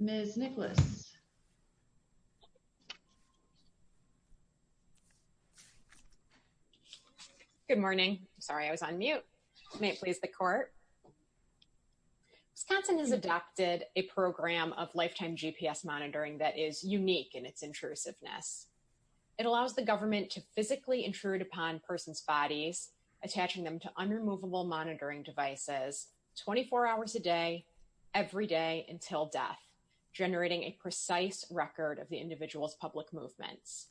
Ms. Nicholas Good morning. Sorry, I was on mute. May it please the court. Wisconsin has allows the government to physically intrude upon persons' bodies, attaching them to unremovable monitoring devices 24 hours a day, every day until death, generating a precise record of the individual's public movements.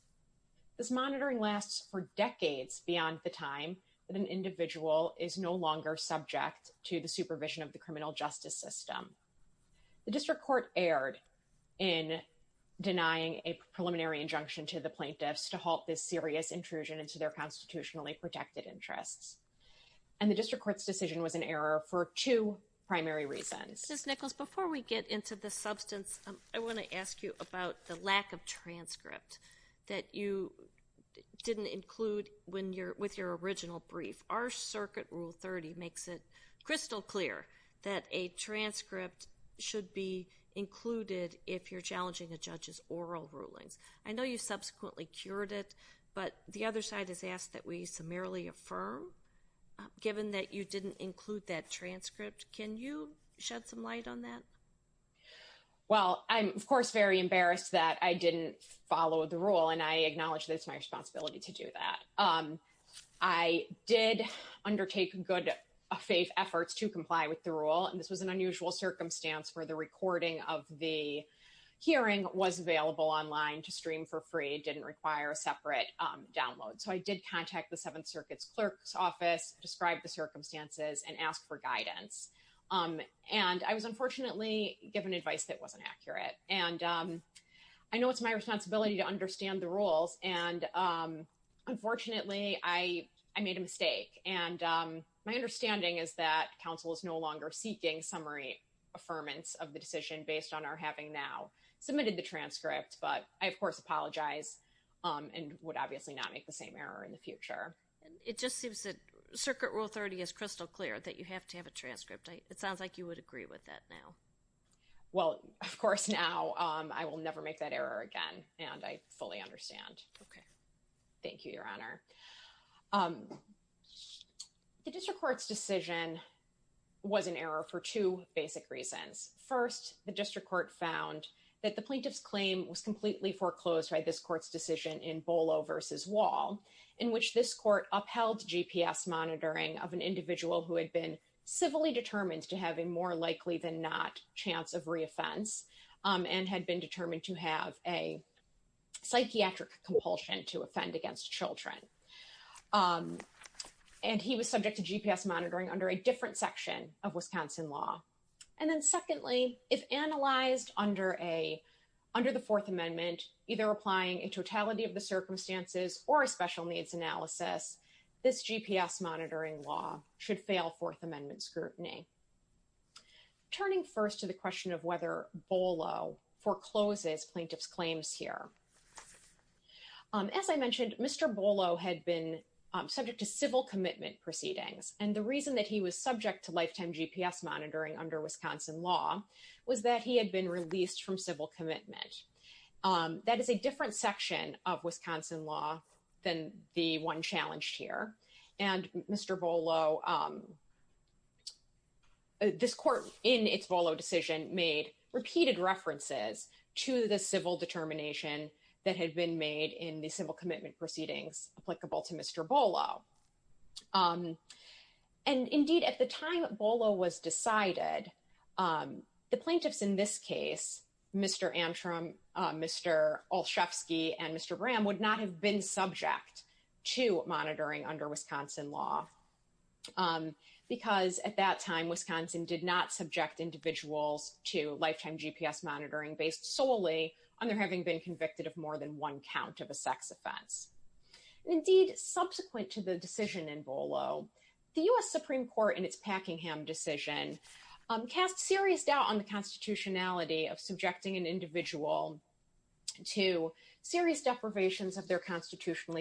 This monitoring lasts for decades beyond the time that an individual is no longer subject to the supervision of the criminal justice system. The district court erred in denying a preliminary injunction to the plaintiffs to halt this serious intrusion into their constitutionally protected interests. And the district court's decision was an error for two primary reasons. Ms. Nichols, before we get into the substance, I want to ask you about the lack of transcript that you didn't include with your original brief. Our circuit rule 30 makes it crystal clear that a transcript should be included if you're challenging a judge's oral rulings. I know you subsequently cured it, but the other side has asked that we summarily affirm, given that you didn't include that transcript, can you shed some light on that? Well, I'm, of course, very embarrassed that I didn't follow the rule, and I acknowledge that it's my responsibility to do that. I did undertake good faith efforts to comply with the rule, and this was an unusual circumstance where the recording of the hearing was available online to stream for free, didn't require a separate download. So I did contact the Seventh Circuit's clerk's office, describe the circumstances, and ask for guidance. And I was unfortunately given advice that wasn't accurate. And I know it's my responsibility to understand the rules, and unfortunately, I made a mistake. And my understanding is that counsel is no longer seeking summary affirmance of the decision based on our having now submitted the transcript. But I, of course, apologize and would obviously not make the same error in the future. It just seems that circuit rule 30 is crystal clear that you have to have a transcript. It sounds like you would agree with that now. Well, of course, now I will never make that error again, and I fully understand. Okay. Thank you, Your Honor. The district court's decision was an error for two basic reasons. First, the district court found that the plaintiff's claim was completely foreclosed by this court's decision in Bolo v. Wall, in which this court upheld GPS monitoring of an individual who had been civilly determined to have a more likely than chance of reoffense and had been determined to have a psychiatric compulsion to offend against children. And he was subject to GPS monitoring under a different section of Wisconsin law. And then secondly, if analyzed under the Fourth Amendment, either applying a totality of the circumstances or a special needs analysis, this GPS monitoring law should fail Fourth Amendment scrutiny. Turning first to the question of whether Bolo forecloses plaintiff's claims here. As I mentioned, Mr. Bolo had been subject to civil commitment proceedings, and the reason that he was subject to lifetime GPS monitoring under Wisconsin law was that he had been released from civil commitment. That is a different section of Wisconsin law than the one challenged here. And Mr. Bolo this court in its Bolo decision made repeated references to the civil determination that had been made in the civil commitment proceedings applicable to Mr. Bolo. And indeed at the time Bolo was decided, the plaintiffs in this case, Mr. Antrim, Mr. Olszewski, and Mr. Graham would not have been subject to monitoring under Wisconsin law. Because at that time Wisconsin did not subject individuals to lifetime GPS monitoring based solely on their having been convicted of more than one count of a sex offense. Indeed, subsequent to the decision in Bolo, the U.S. Supreme Court in its Packingham decision cast serious doubt on the constitutionality of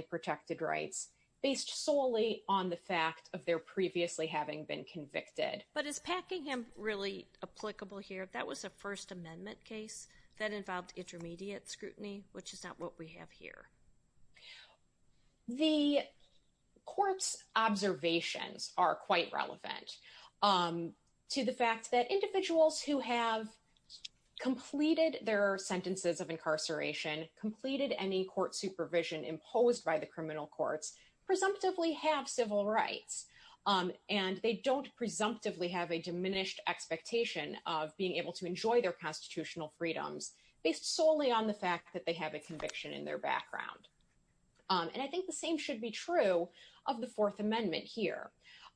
protected rights based solely on the fact of their previously having been convicted. But is Packingham really applicable here? That was a First Amendment case that involved intermediate scrutiny, which is not what we have here. The court's observations are quite relevant to the fact that individuals who have imposed by the criminal courts presumptively have civil rights. And they don't presumptively have a diminished expectation of being able to enjoy their constitutional freedoms based solely on the fact that they have a conviction in their background. And I think the same should be true of the Fourth Amendment here.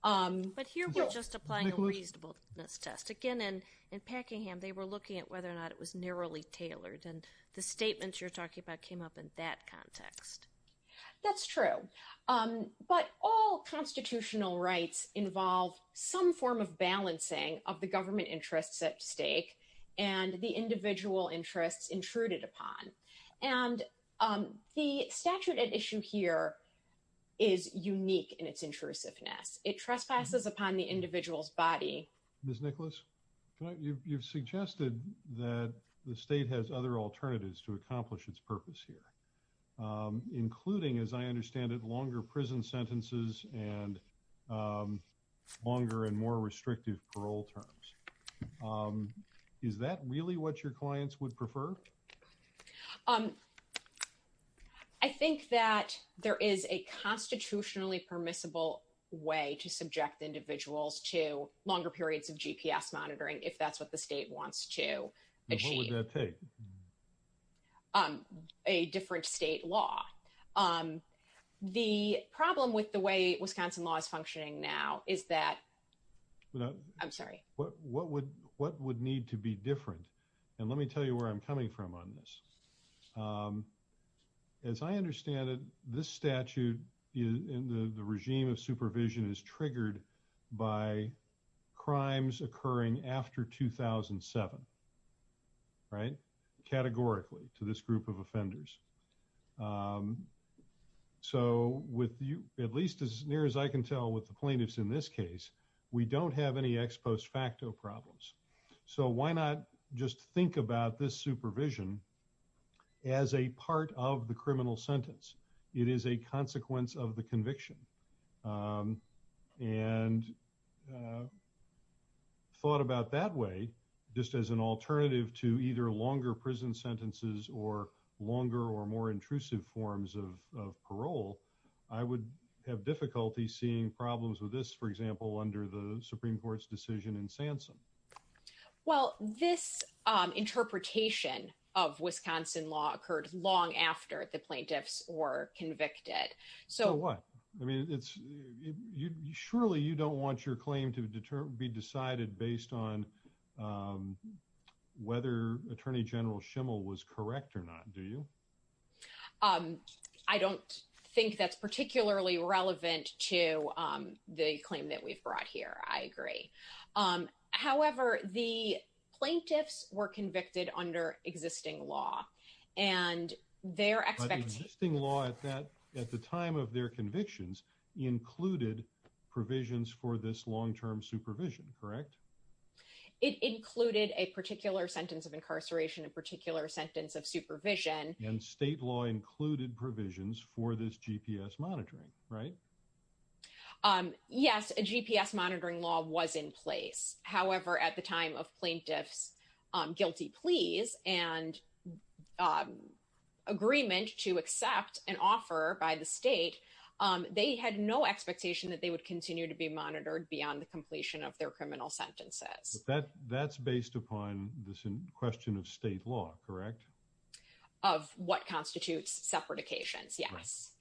But here we're just applying a reasonableness test. Again, in Packingham, they were looking at whether or not it was narrowly tailored. And the statements you're talking about came up in that context. That's true. But all constitutional rights involve some form of balancing of the government interests at stake and the individual interests intruded upon. And the statute at issue here is unique in its intrusiveness. It trespasses upon the individual's body. Ms. Nicholas, you've suggested that the state has other alternatives to accomplish its purpose here. Including, as I understand it, longer prison sentences and longer and more restrictive parole terms. Is that really what your clients would prefer? I think that there is a constitutionally permissible way to subject individuals to longer periods of GPS monitoring if that's what the state wants to achieve. What would that take? A different state law. The problem with the way Wisconsin law is functioning now is that... I'm sorry. What would need to be different? And let me tell you where I'm coming from on this. As I understand it, this statute in the state of Wisconsin does not have any ex post facto problems. So why not just think about this supervision as a part of the criminal sentence? It is a consequence of the conviction. And thought about that way, just as an alternative to either longer prison sentences or longer or more intrusive forms of parole, I would have difficulty seeing problems with this, for example, under the Supreme Court's decision in Sansom. Well, this interpretation of Wisconsin law occurred long after the plaintiffs were convicted. So what? I mean, it's... Surely you don't want to claim to be decided based on whether Attorney General Schimel was correct or not, do you? I don't think that's particularly relevant to the claim that we've brought here. I agree. However, the plaintiffs were convicted under existing law and they're expecting... Some of their convictions included provisions for this long-term supervision, correct? It included a particular sentence of incarceration, a particular sentence of supervision. And state law included provisions for this GPS monitoring, right? Yes, a GPS monitoring law was in place. However, at the time of plaintiff's guilty pleas and on agreement to accept an offer by the state, they had no expectation that they would continue to be monitored beyond the completion of their criminal sentences. That's based upon this question of state law, correct? Of what constitutes separatications, yes.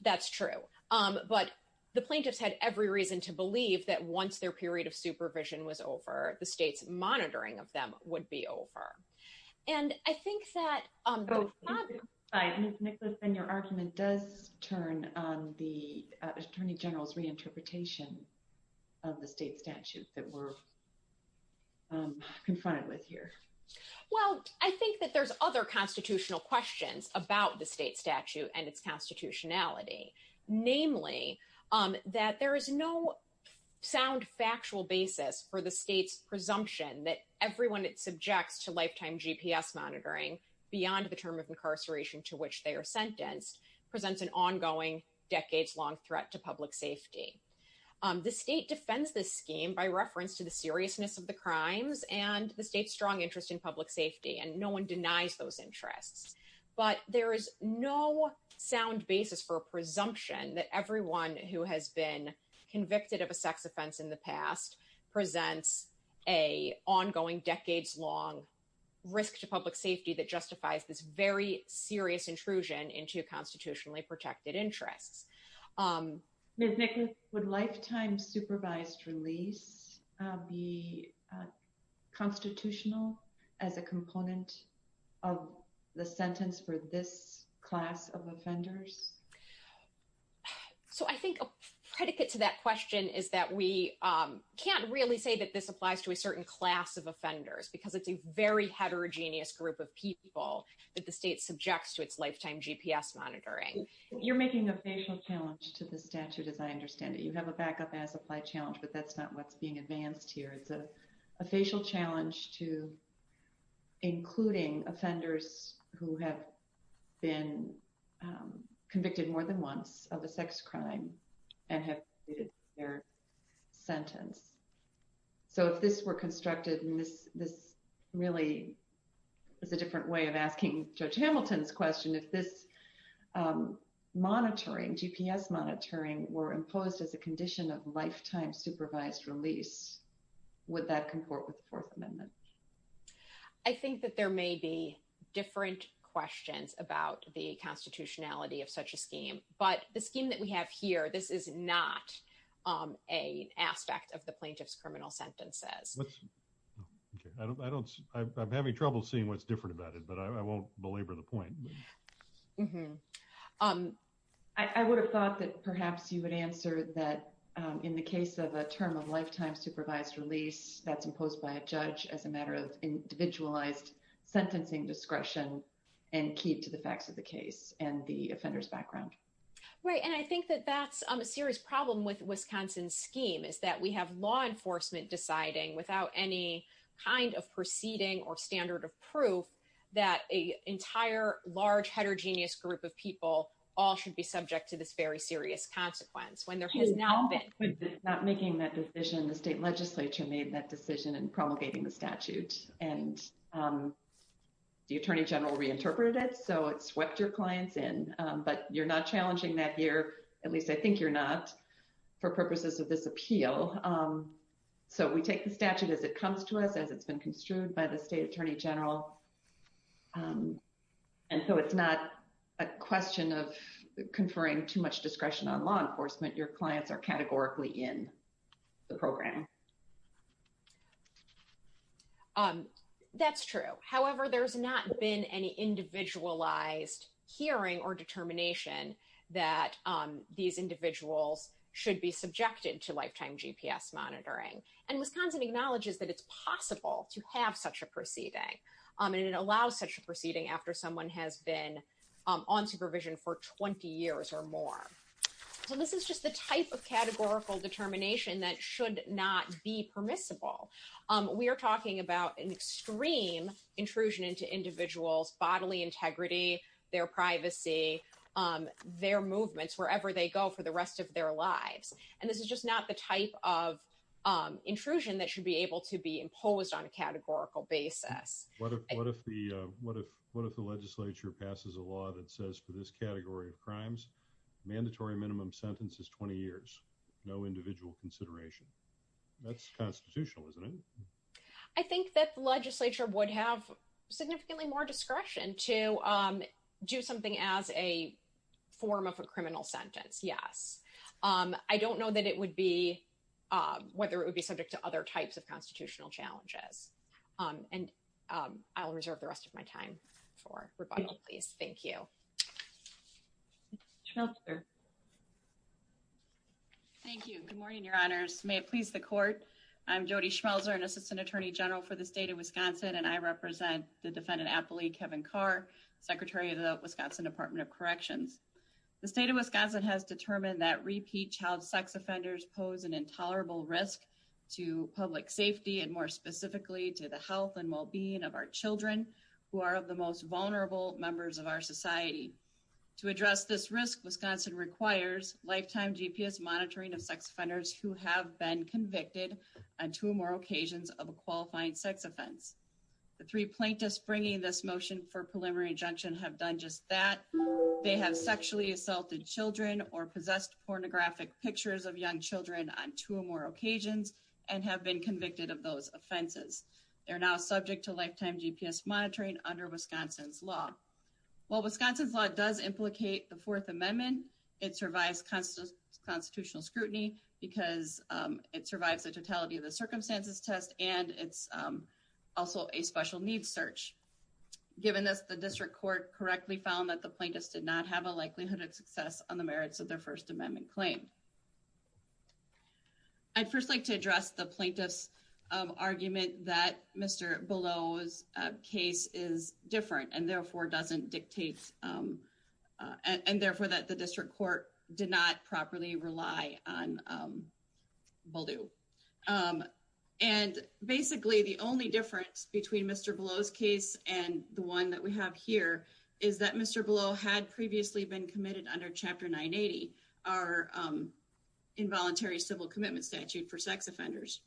That's true. But the plaintiffs had every reason to believe that once their period of supervision was over, the state's monitoring of them would be over. And I think that... Ms. Nicholson, your argument does turn on the Attorney General's reinterpretation of the state statute that we're confronted with here. Well, I think that there's other constitutional questions about the state statute and its constitutionality. Namely, that there is no sound factual basis for the state's presumption that everyone it subjects to lifetime GPS monitoring beyond the term of incarceration to which they are sentenced presents an ongoing decades-long threat to public safety. The state defends this scheme by reference to the seriousness of the crimes and the state's strong interest in public safety, and no one denies those interests. But there is no sound basis for a presumption that everyone who has been convicted of a sex offense in the past presents a ongoing decades-long risk to public safety that justifies this very serious intrusion into constitutionally protected interests. Ms. Nicklaus, would lifetime supervised release be constitutional as a component of the sentence for this class of offenders? So I think a predicate to that question is that we can't really say that this applies to a certain class of offenders because it's a very heterogeneous group of people that the state subjects to its lifetime GPS monitoring. You're making a facial challenge to the statute as I understand it. You have a back-up as applied challenge, but that's not what's being advanced here. It's a facial challenge to including offenders who have been convicted more than once of a sex crime and have completed their sentence. So if this were constructed, and this really is a different way of asking Judge Hamilton's question, if this monitoring, GPS monitoring, were imposed as a condition of lifetime supervised release, would that comport with the Fourth Amendment? I think that there may be different questions about the constitutionality of such a scheme, but the scheme that we have here, this is not an aspect of the plaintiff's criminal sentences. I'm having trouble seeing what's different about it, but I won't belabor the point. I would have thought that perhaps you would answer that in the case of a term of lifetime supervised release that's imposed by a judge as a matter of individualized sentencing discretion and key to the facts of the case and the offender's background. Right, and I think that that's a serious problem with Wisconsin's scheme, is that we have law enforcement deciding without any kind of proceeding or standard of proof that an entire large heterogeneous group of people all should be subject to this very serious consequence when there has not been. Not making that decision, the state legislature made that decision in promulgating the statute, and the attorney general reinterpreted it, so it swept your clients in. But you're not challenging that here, at least I think you're not, for purposes of this appeal. So we take the statute as it comes to us, as it's been construed by the state attorney general, and so it's not a question of conferring too much discretion on law enforcement. Your clients are categorically in the program. Um, that's true. However, there's not been any individualized hearing or determination that these individuals should be subjected to lifetime GPS monitoring. And Wisconsin acknowledges that it's possible to have such a proceeding, and it allows such a proceeding after someone has been on supervision for 20 years or more. So this is just the type of We are talking about an extreme intrusion into individuals' bodily integrity, their privacy, their movements, wherever they go for the rest of their lives. And this is just not the type of intrusion that should be able to be imposed on a categorical basis. What if the legislature passes a law that says for this category of crimes, mandatory minimum sentence is 20 years, no individual consideration. That's constitutional, isn't it? I think that the legislature would have significantly more discretion to do something as a form of a criminal sentence. Yes. I don't know that it would be, whether it would be subject to other types of constitutional challenges. And I'll reserve the rest of my time for rebuttal, please. Thank you. Counselor. Thank you. Good morning, Your Honors. May it please the court. I'm Jody Schmelzer, an Assistant Attorney General for the state of Wisconsin, and I represent the defendant appellee, Kevin Carr, Secretary of the Wisconsin Department of Corrections. The state of Wisconsin has determined that repeat child sex offenders pose an intolerable risk to public safety, and more specifically, to the health and well-being of our children, who are of the most vulnerable members of our society. To address this risk, Wisconsin requires lifetime GPS monitoring of sex offenders who have been convicted on two or more occasions of a qualifying sex offense. The three plaintiffs bringing this motion for preliminary injunction have done just that. They have sexually assaulted children or possessed pornographic pictures of young children on two or more occasions, and have been convicted of those offenses. They're now subject to lifetime GPS monitoring under Wisconsin's law. While Wisconsin's law does implicate the Fourth Amendment, it survives constitutional scrutiny because it survives the totality of the circumstances test, and it's also a special needs search. Given this, the district court correctly found that the plaintiffs did not have a likelihood of success on the merits of their First Amendment claim. I'd first like to address the plaintiff's argument that Mr. Below's case is different, and therefore, doesn't dictate, and therefore, that the district court did not properly rely on Baldew. And basically, the only difference between Mr. Below's case and the one that we have here is that Mr. Below had previously been committed under Chapter 980, our involuntary civil commitment statute for sex offenders.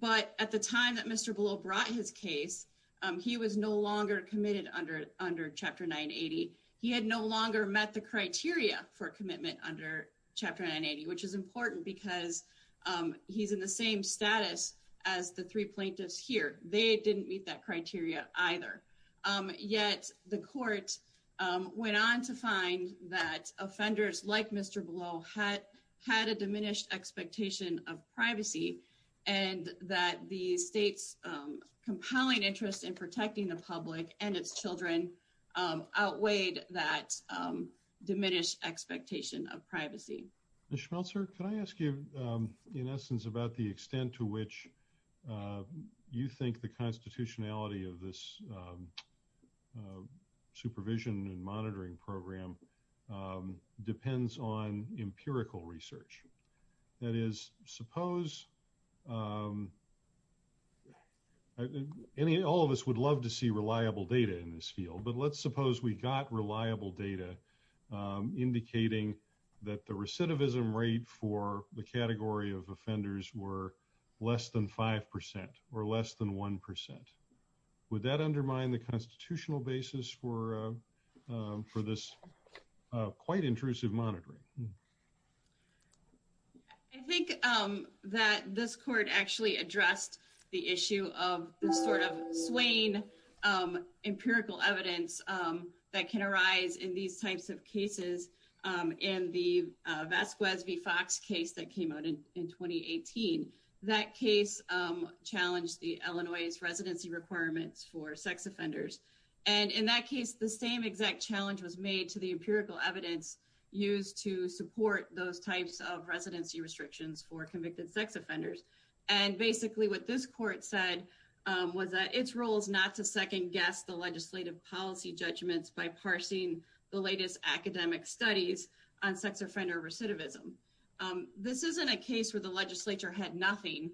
But at the time that Mr. Below brought his case, he was no longer committed under Chapter 980. He had no longer met the criteria for commitment under Chapter 980, which is important because he's in the same status as the three plaintiffs here. They didn't meet that criteria either. Yet the court went on to find that offenders like Mr. Below had a diminished expectation of privacy and that the state's compelling interest in protecting the public and its children outweighed that diminished expectation of privacy. Ms. Schmeltzer, can I ask you, in essence, about the extent to which you think the constitutionality of this supervision and monitoring program depends on empirical research? That is, suppose all of us would love to see reliable data in this field, but let's suppose we got reliable data indicating that the recidivism rate for the category of offenders were less than 5% or less than 1%. Would that undermine the constitutional basis for this quite intrusive monitoring? I think that this court actually addressed the issue of the sort of swain empirical evidence that can arise in these types of cases. In the Vasquez v. Fox case that came out in 2018, that case challenged the Illinois' residency requirements for sex offenders. In that case, the same exact challenge was made to the empirical evidence used to support those types of residency restrictions for convicted sex offenders. Basically, what this court said was that its role is not to second-guess the legislative policy judgments by parsing the latest academic studies on sex offender recidivism. This isn't a case where the legislature had nothing.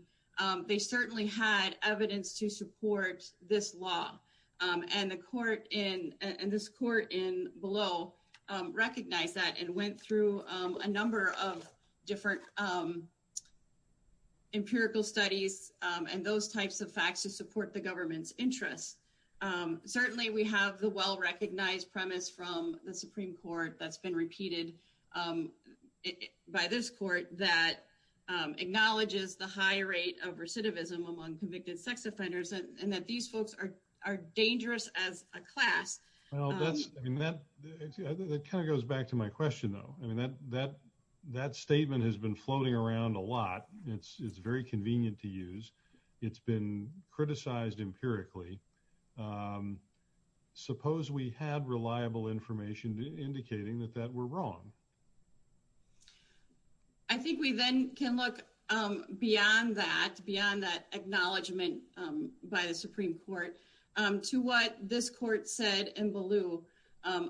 They certainly had evidence to support this law, and this court in below recognized that and went through a number of different empirical studies and those types of support the government's interests. Certainly, we have the well-recognized premise from the Supreme Court that's been repeated by this court that acknowledges the high rate of recidivism among convicted sex offenders and that these folks are dangerous as a class. That kind of goes back to my question, though. That statement has been floating around a lot. It's very convenient to use. It's been criticized empirically. Suppose we had reliable information indicating that that were wrong. I think we then can look beyond that, beyond that acknowledgement by the Supreme Court, to what this court said in blue,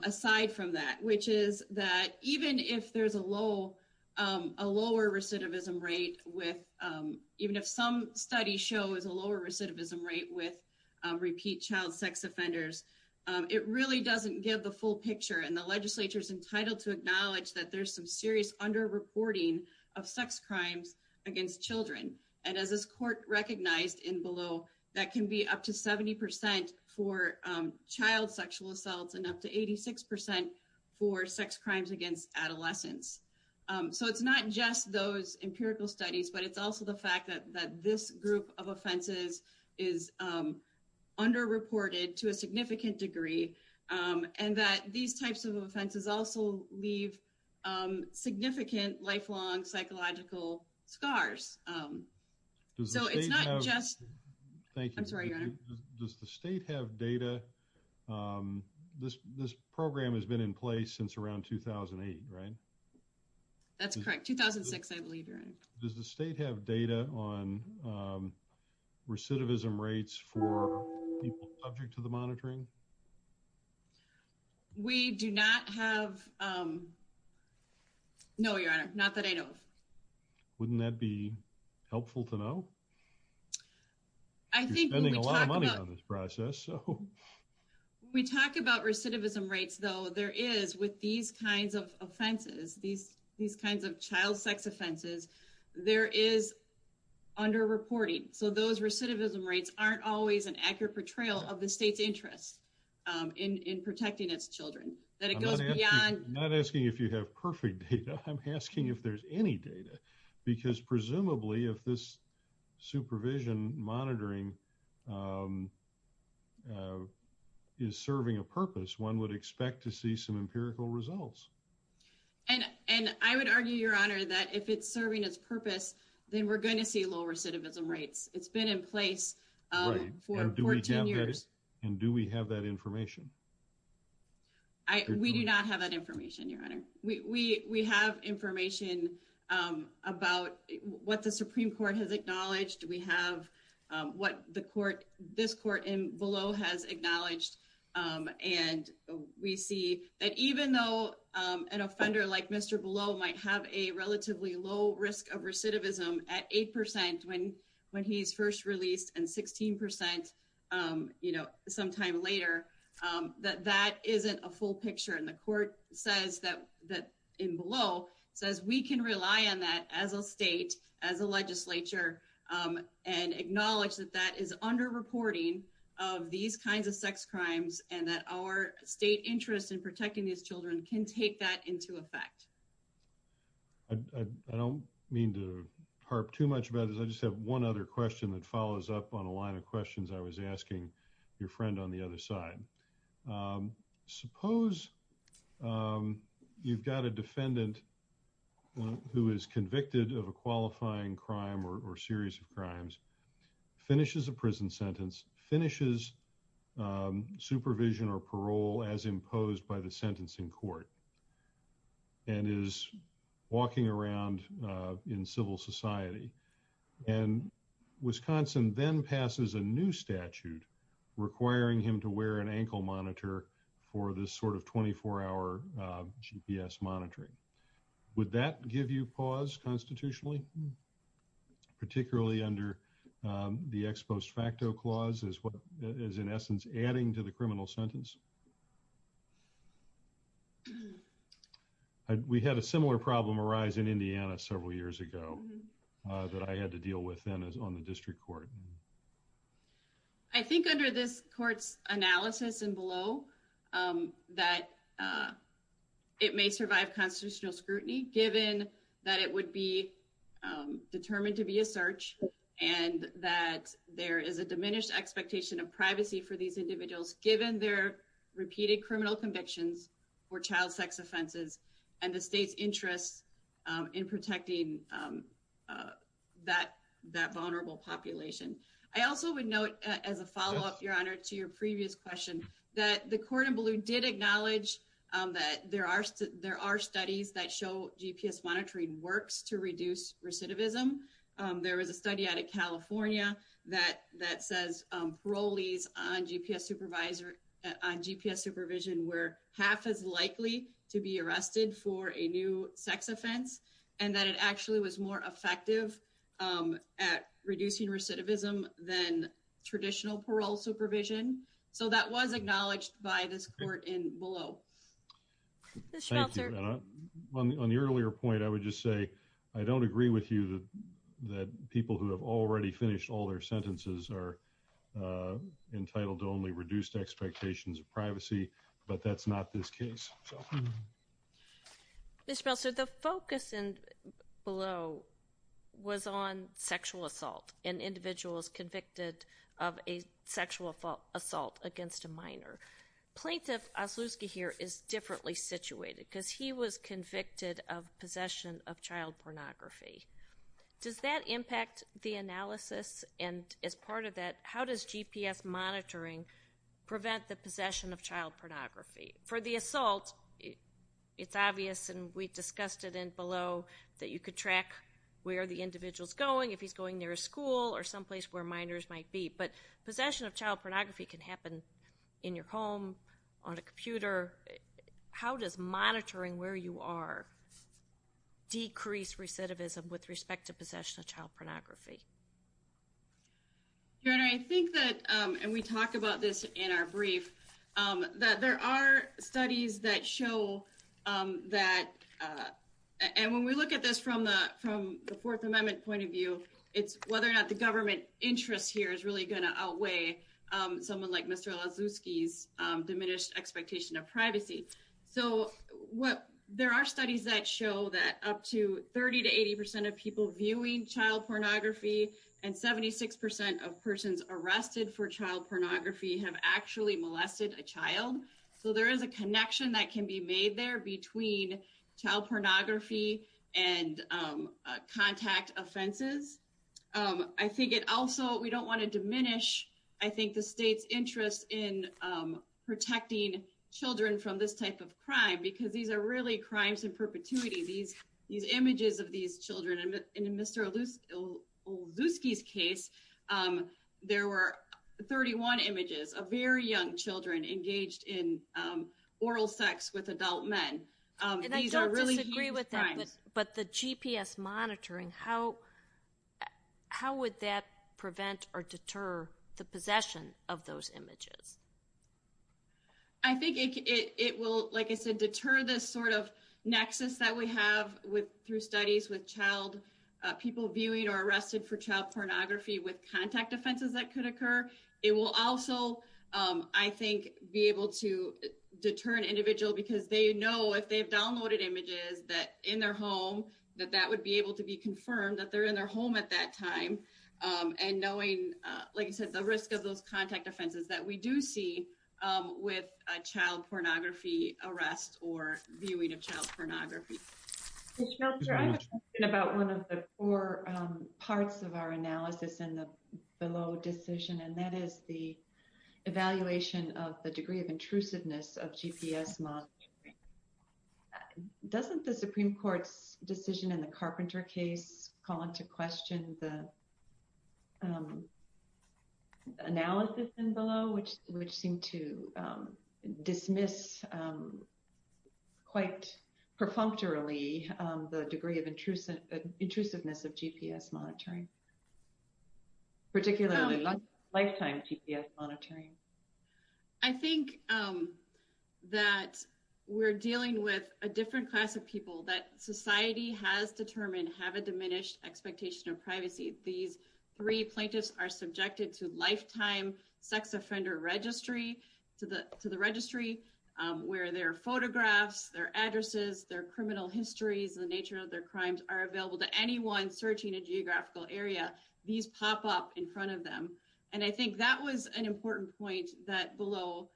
aside from that, which is that even if there's a lower recidivism rate, even if some studies show there's a lower recidivism rate with repeat child sex offenders, it really doesn't give the full picture. The legislature is entitled to acknowledge that there's some serious underreporting of sex crimes against children. As this court recognized in below, that can be up to 70 percent for child sexual assaults and up to 86 percent for sex studies. But it's also the fact that this group of offenses is underreported to a significant degree and that these types of offenses also leave significant lifelong psychological scars. Does the state have data? This program has been in place since around 2008, right? That's correct. 2006, I believe you're right. Does the state have data on recidivism rates for people subject to the monitoring? We do not have. No, Your Honor, not that I know of. Wouldn't that be helpful to know? I think you're spending a lot of money on this process. When we talk about recidivism rates, though, there is, with these kinds of offenses, these kinds of child sex offenses, there is underreporting. So those recidivism rates aren't always an accurate portrayal of the state's interest in protecting its children. I'm not asking if you have perfect data. I'm asking if there's any data. Because presumably, if this supervision monitoring is serving a purpose, one would expect to see some empirical results. And I would argue, Your Honor, that if it's serving its purpose, then we're going to see low recidivism rates. It's been in place for 14 years. And do we have that information? I, we do not have that information, Your Honor. We have information about what the Supreme Court has acknowledged. We have what the court, this court in Beleau has acknowledged. And we see that even though an offender like Mr. Beleau might have a relatively low risk of recidivism at 8% when he's first released and 16%, you know, sometime later, that that isn't a full picture. And the court says that, in Beleau, says we can rely on that as a state, as a legislature, and acknowledge that that is underreporting of these kinds of sex crimes and that our state interest in protecting these children can take that into effect. I don't mean to harp too much about this. I just have one other question that follows up on a line of questions I was asking your friend on the other side. Suppose you've got a defendant who is convicted of a qualifying crime or series of crimes, finishes a prison sentence, finishes supervision or parole as imposed by the sentencing court, and is walking around in civil society. And Wisconsin then passes a new statute requiring him to wear an ankle monitor for this sort of 24-hour GPS monitoring. Would that give you pause constitutionally, particularly under the ex post facto clause as what is, in essence, adding to the criminal sentence? We had a similar problem arise in Indiana several years ago that I had to deal with then on the district court. I think under this court's analysis in Beleau that it may survive constitutional scrutiny, given that it would be determined to be a search and that there is a diminished expectation of privacy for these individuals given their repeated criminal convictions for child sex offenses and the state's interest in protecting that vulnerable population. I also would note as a follow-up, Your Honor, to your previous question that the court in Beleau did acknowledge that there are studies that show GPS monitoring works to reduce recidivism. There was a study out of California that says parolees on GPS supervision were half as likely to be arrested for a new sex offense, and that it actually was more effective at reducing recidivism than traditional parole supervision. So that was acknowledged by this court in Beleau. On the earlier point, I would just say I don't agree with you that people who have already finished all their sentences are entitled to only reduced expectations of privacy, but that's not this case. Ms. Schmelzer, the focus in Beleau was on sexual assault and individuals convicted of a sexual assault against a minor. Plaintiff Oslewski here is differently situated because he was convicted of possession of child pornography. Does that impact the analysis? And as part of that, how does GPS monitoring prevent the possession of child pornography? For the assault, it's obvious, and we discussed it in Beleau, that you could track where the individual's going, if he's going near a school or someplace where minors might be. But possession of child pornography can happen in your home, on a computer. How does monitoring where you are decrease recidivism with respect to possession of child pornography? Your Honor, I think that, and we talk about this in our brief, that there are studies that show that, and when we look at this from the Fourth Amendment point of view, it's whether or not the government interest here is really going to outweigh someone like Mr. Oslewski's diminished expectation of privacy. So, there are studies that show that up to 30 to 80 percent of people viewing child pornography and 76 percent of persons arrested for child pornography have actually molested a child. So, there is a connection that can be made there between child pornography and contact offenses. I think it also, we don't want to diminish, I think, the state's interest in protecting children from this type of crime, because these are really crimes in perpetuity. These images of these children, and in Mr. Oslewski's case, there were 31 images of very young children engaged in oral sex with adult men. And I don't disagree with that, but the GPS monitoring, how would that prevent or deter the possession of those images? I think it will, like I said, deter this sort of nexus that we have through studies with child viewing or arrested for child pornography with contact offenses that could occur. It will also, I think, be able to deter an individual because they know if they've downloaded images that in their home, that that would be able to be confirmed that they're in their home at that time. And knowing, like I said, the risk of those contact offenses that we do see with a child pornography arrest or viewing of child pornography. Judge Meltzer, I have a question about one of the four parts of our analysis in the below decision, and that is the evaluation of the degree of intrusiveness of GPS monitoring. Doesn't the Supreme Court's decision in the Carpenter case call into question the which seemed to dismiss quite perfunctorily the degree of intrusiveness of GPS monitoring, particularly lifetime GPS monitoring? I think that we're dealing with a different class of people that society has determined have a diminished expectation of privacy. These three plaintiffs are subjected to lifetime sex offender registry, to the registry where their photographs, their addresses, their criminal histories, the nature of their crimes are available to anyone searching a geographical area. These pop up in front of them. And I think that was an important point that Below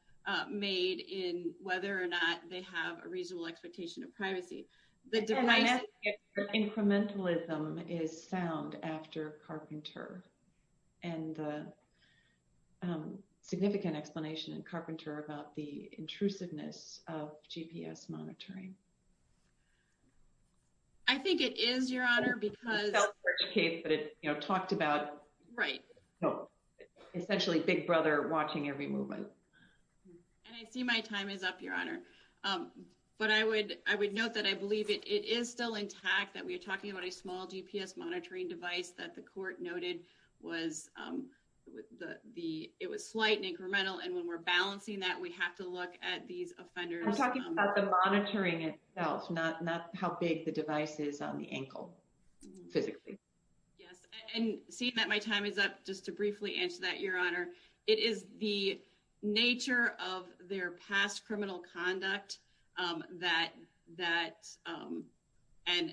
made in whether or not they have a reasonable expectation of Carpenter. And a significant explanation in Carpenter about the intrusiveness of GPS monitoring. I think it is, Your Honor, because... It's a self-search case, but it talked about... Right. Essentially Big Brother watching every movement. And I see my time is up, Your Honor. But I would note that I believe it is still intact that we noted it was slight and incremental. And when we're balancing that, we have to look at these offenders... I'm talking about the monitoring itself, not how big the device is on the ankle physically. Yes. And seeing that my time is up just to briefly answer that, Your Honor. It is the nature of their past criminal conduct that...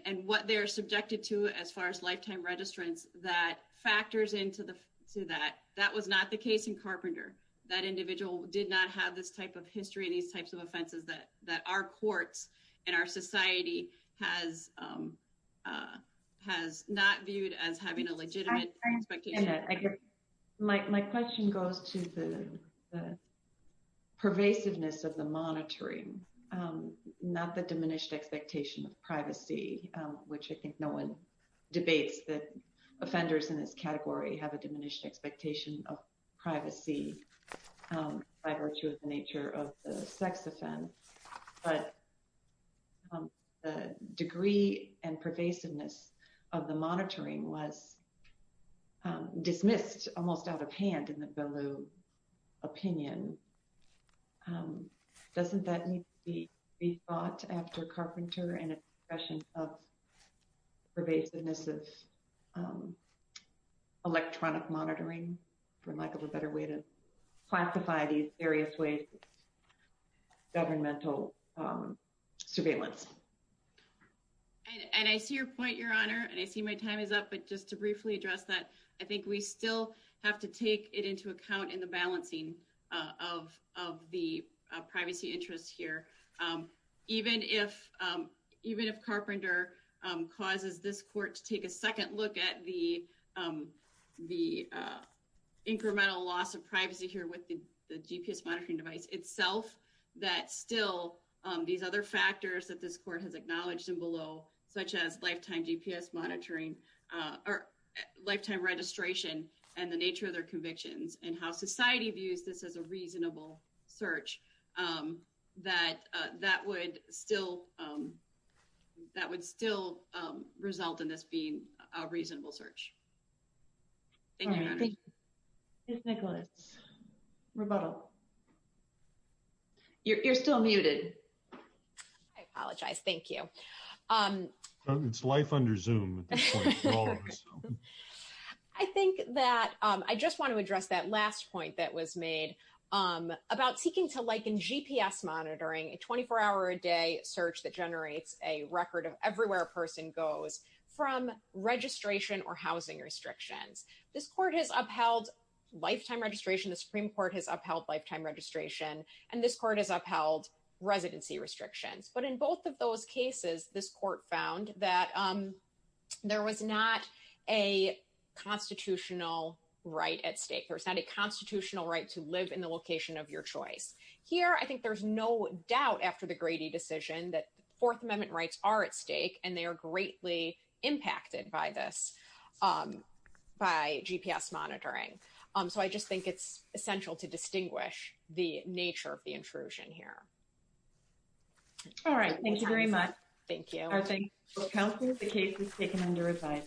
And what they're subjected to as far as factors into that, that was not the case in Carpenter. That individual did not have this type of history and these types of offenses that our courts and our society has not viewed as having a legitimate expectation. I get it. My question goes to the pervasiveness of the monitoring, not the diminished expectation of privacy, which I think no one debates that offenders in this category have a diminished expectation of privacy by virtue of the nature of the sex offense. But the degree and pervasiveness of the monitoring was dismissed almost out of hand in the Belew opinion. Doesn't that need to be rethought after Carpenter and a discussion of pervasiveness of electronic monitoring for lack of a better way to classify these various ways governmental surveillance? And I see your point, Your Honor, and I see my time is up. But just to briefly address that, I think we still have to take it into account in the balancing of the privacy interests here. Even if Carpenter causes this court to take a second look at the incremental loss of privacy here with the GPS monitoring device itself, that still these other factors that this court has and the nature of their convictions and how society views this as a reasonable search, that would still result in this being a reasonable search. You're still muted. I apologize. Thank you. It's life under Zoom. I just want to address that last point that was made about seeking to liken GPS monitoring, a 24-hour-a-day search that generates a record of everywhere a person goes, from registration or housing restrictions. This court has upheld lifetime registration, the Supreme Court has upheld lifetime registration, and this court has upheld residency restrictions. But in both of those cases, this court found that there was not a constitutional right at stake. There's not a constitutional right to live in the location of your choice. Here, I think there's no doubt after the Grady decision that Fourth Amendment rights are at stake, and they are greatly impacted by this, by GPS monitoring. So I just think it's essential to distinguish the nature of the intrusion here. All right. Thank you very much. Thank you. Counsel, the case is taken under review.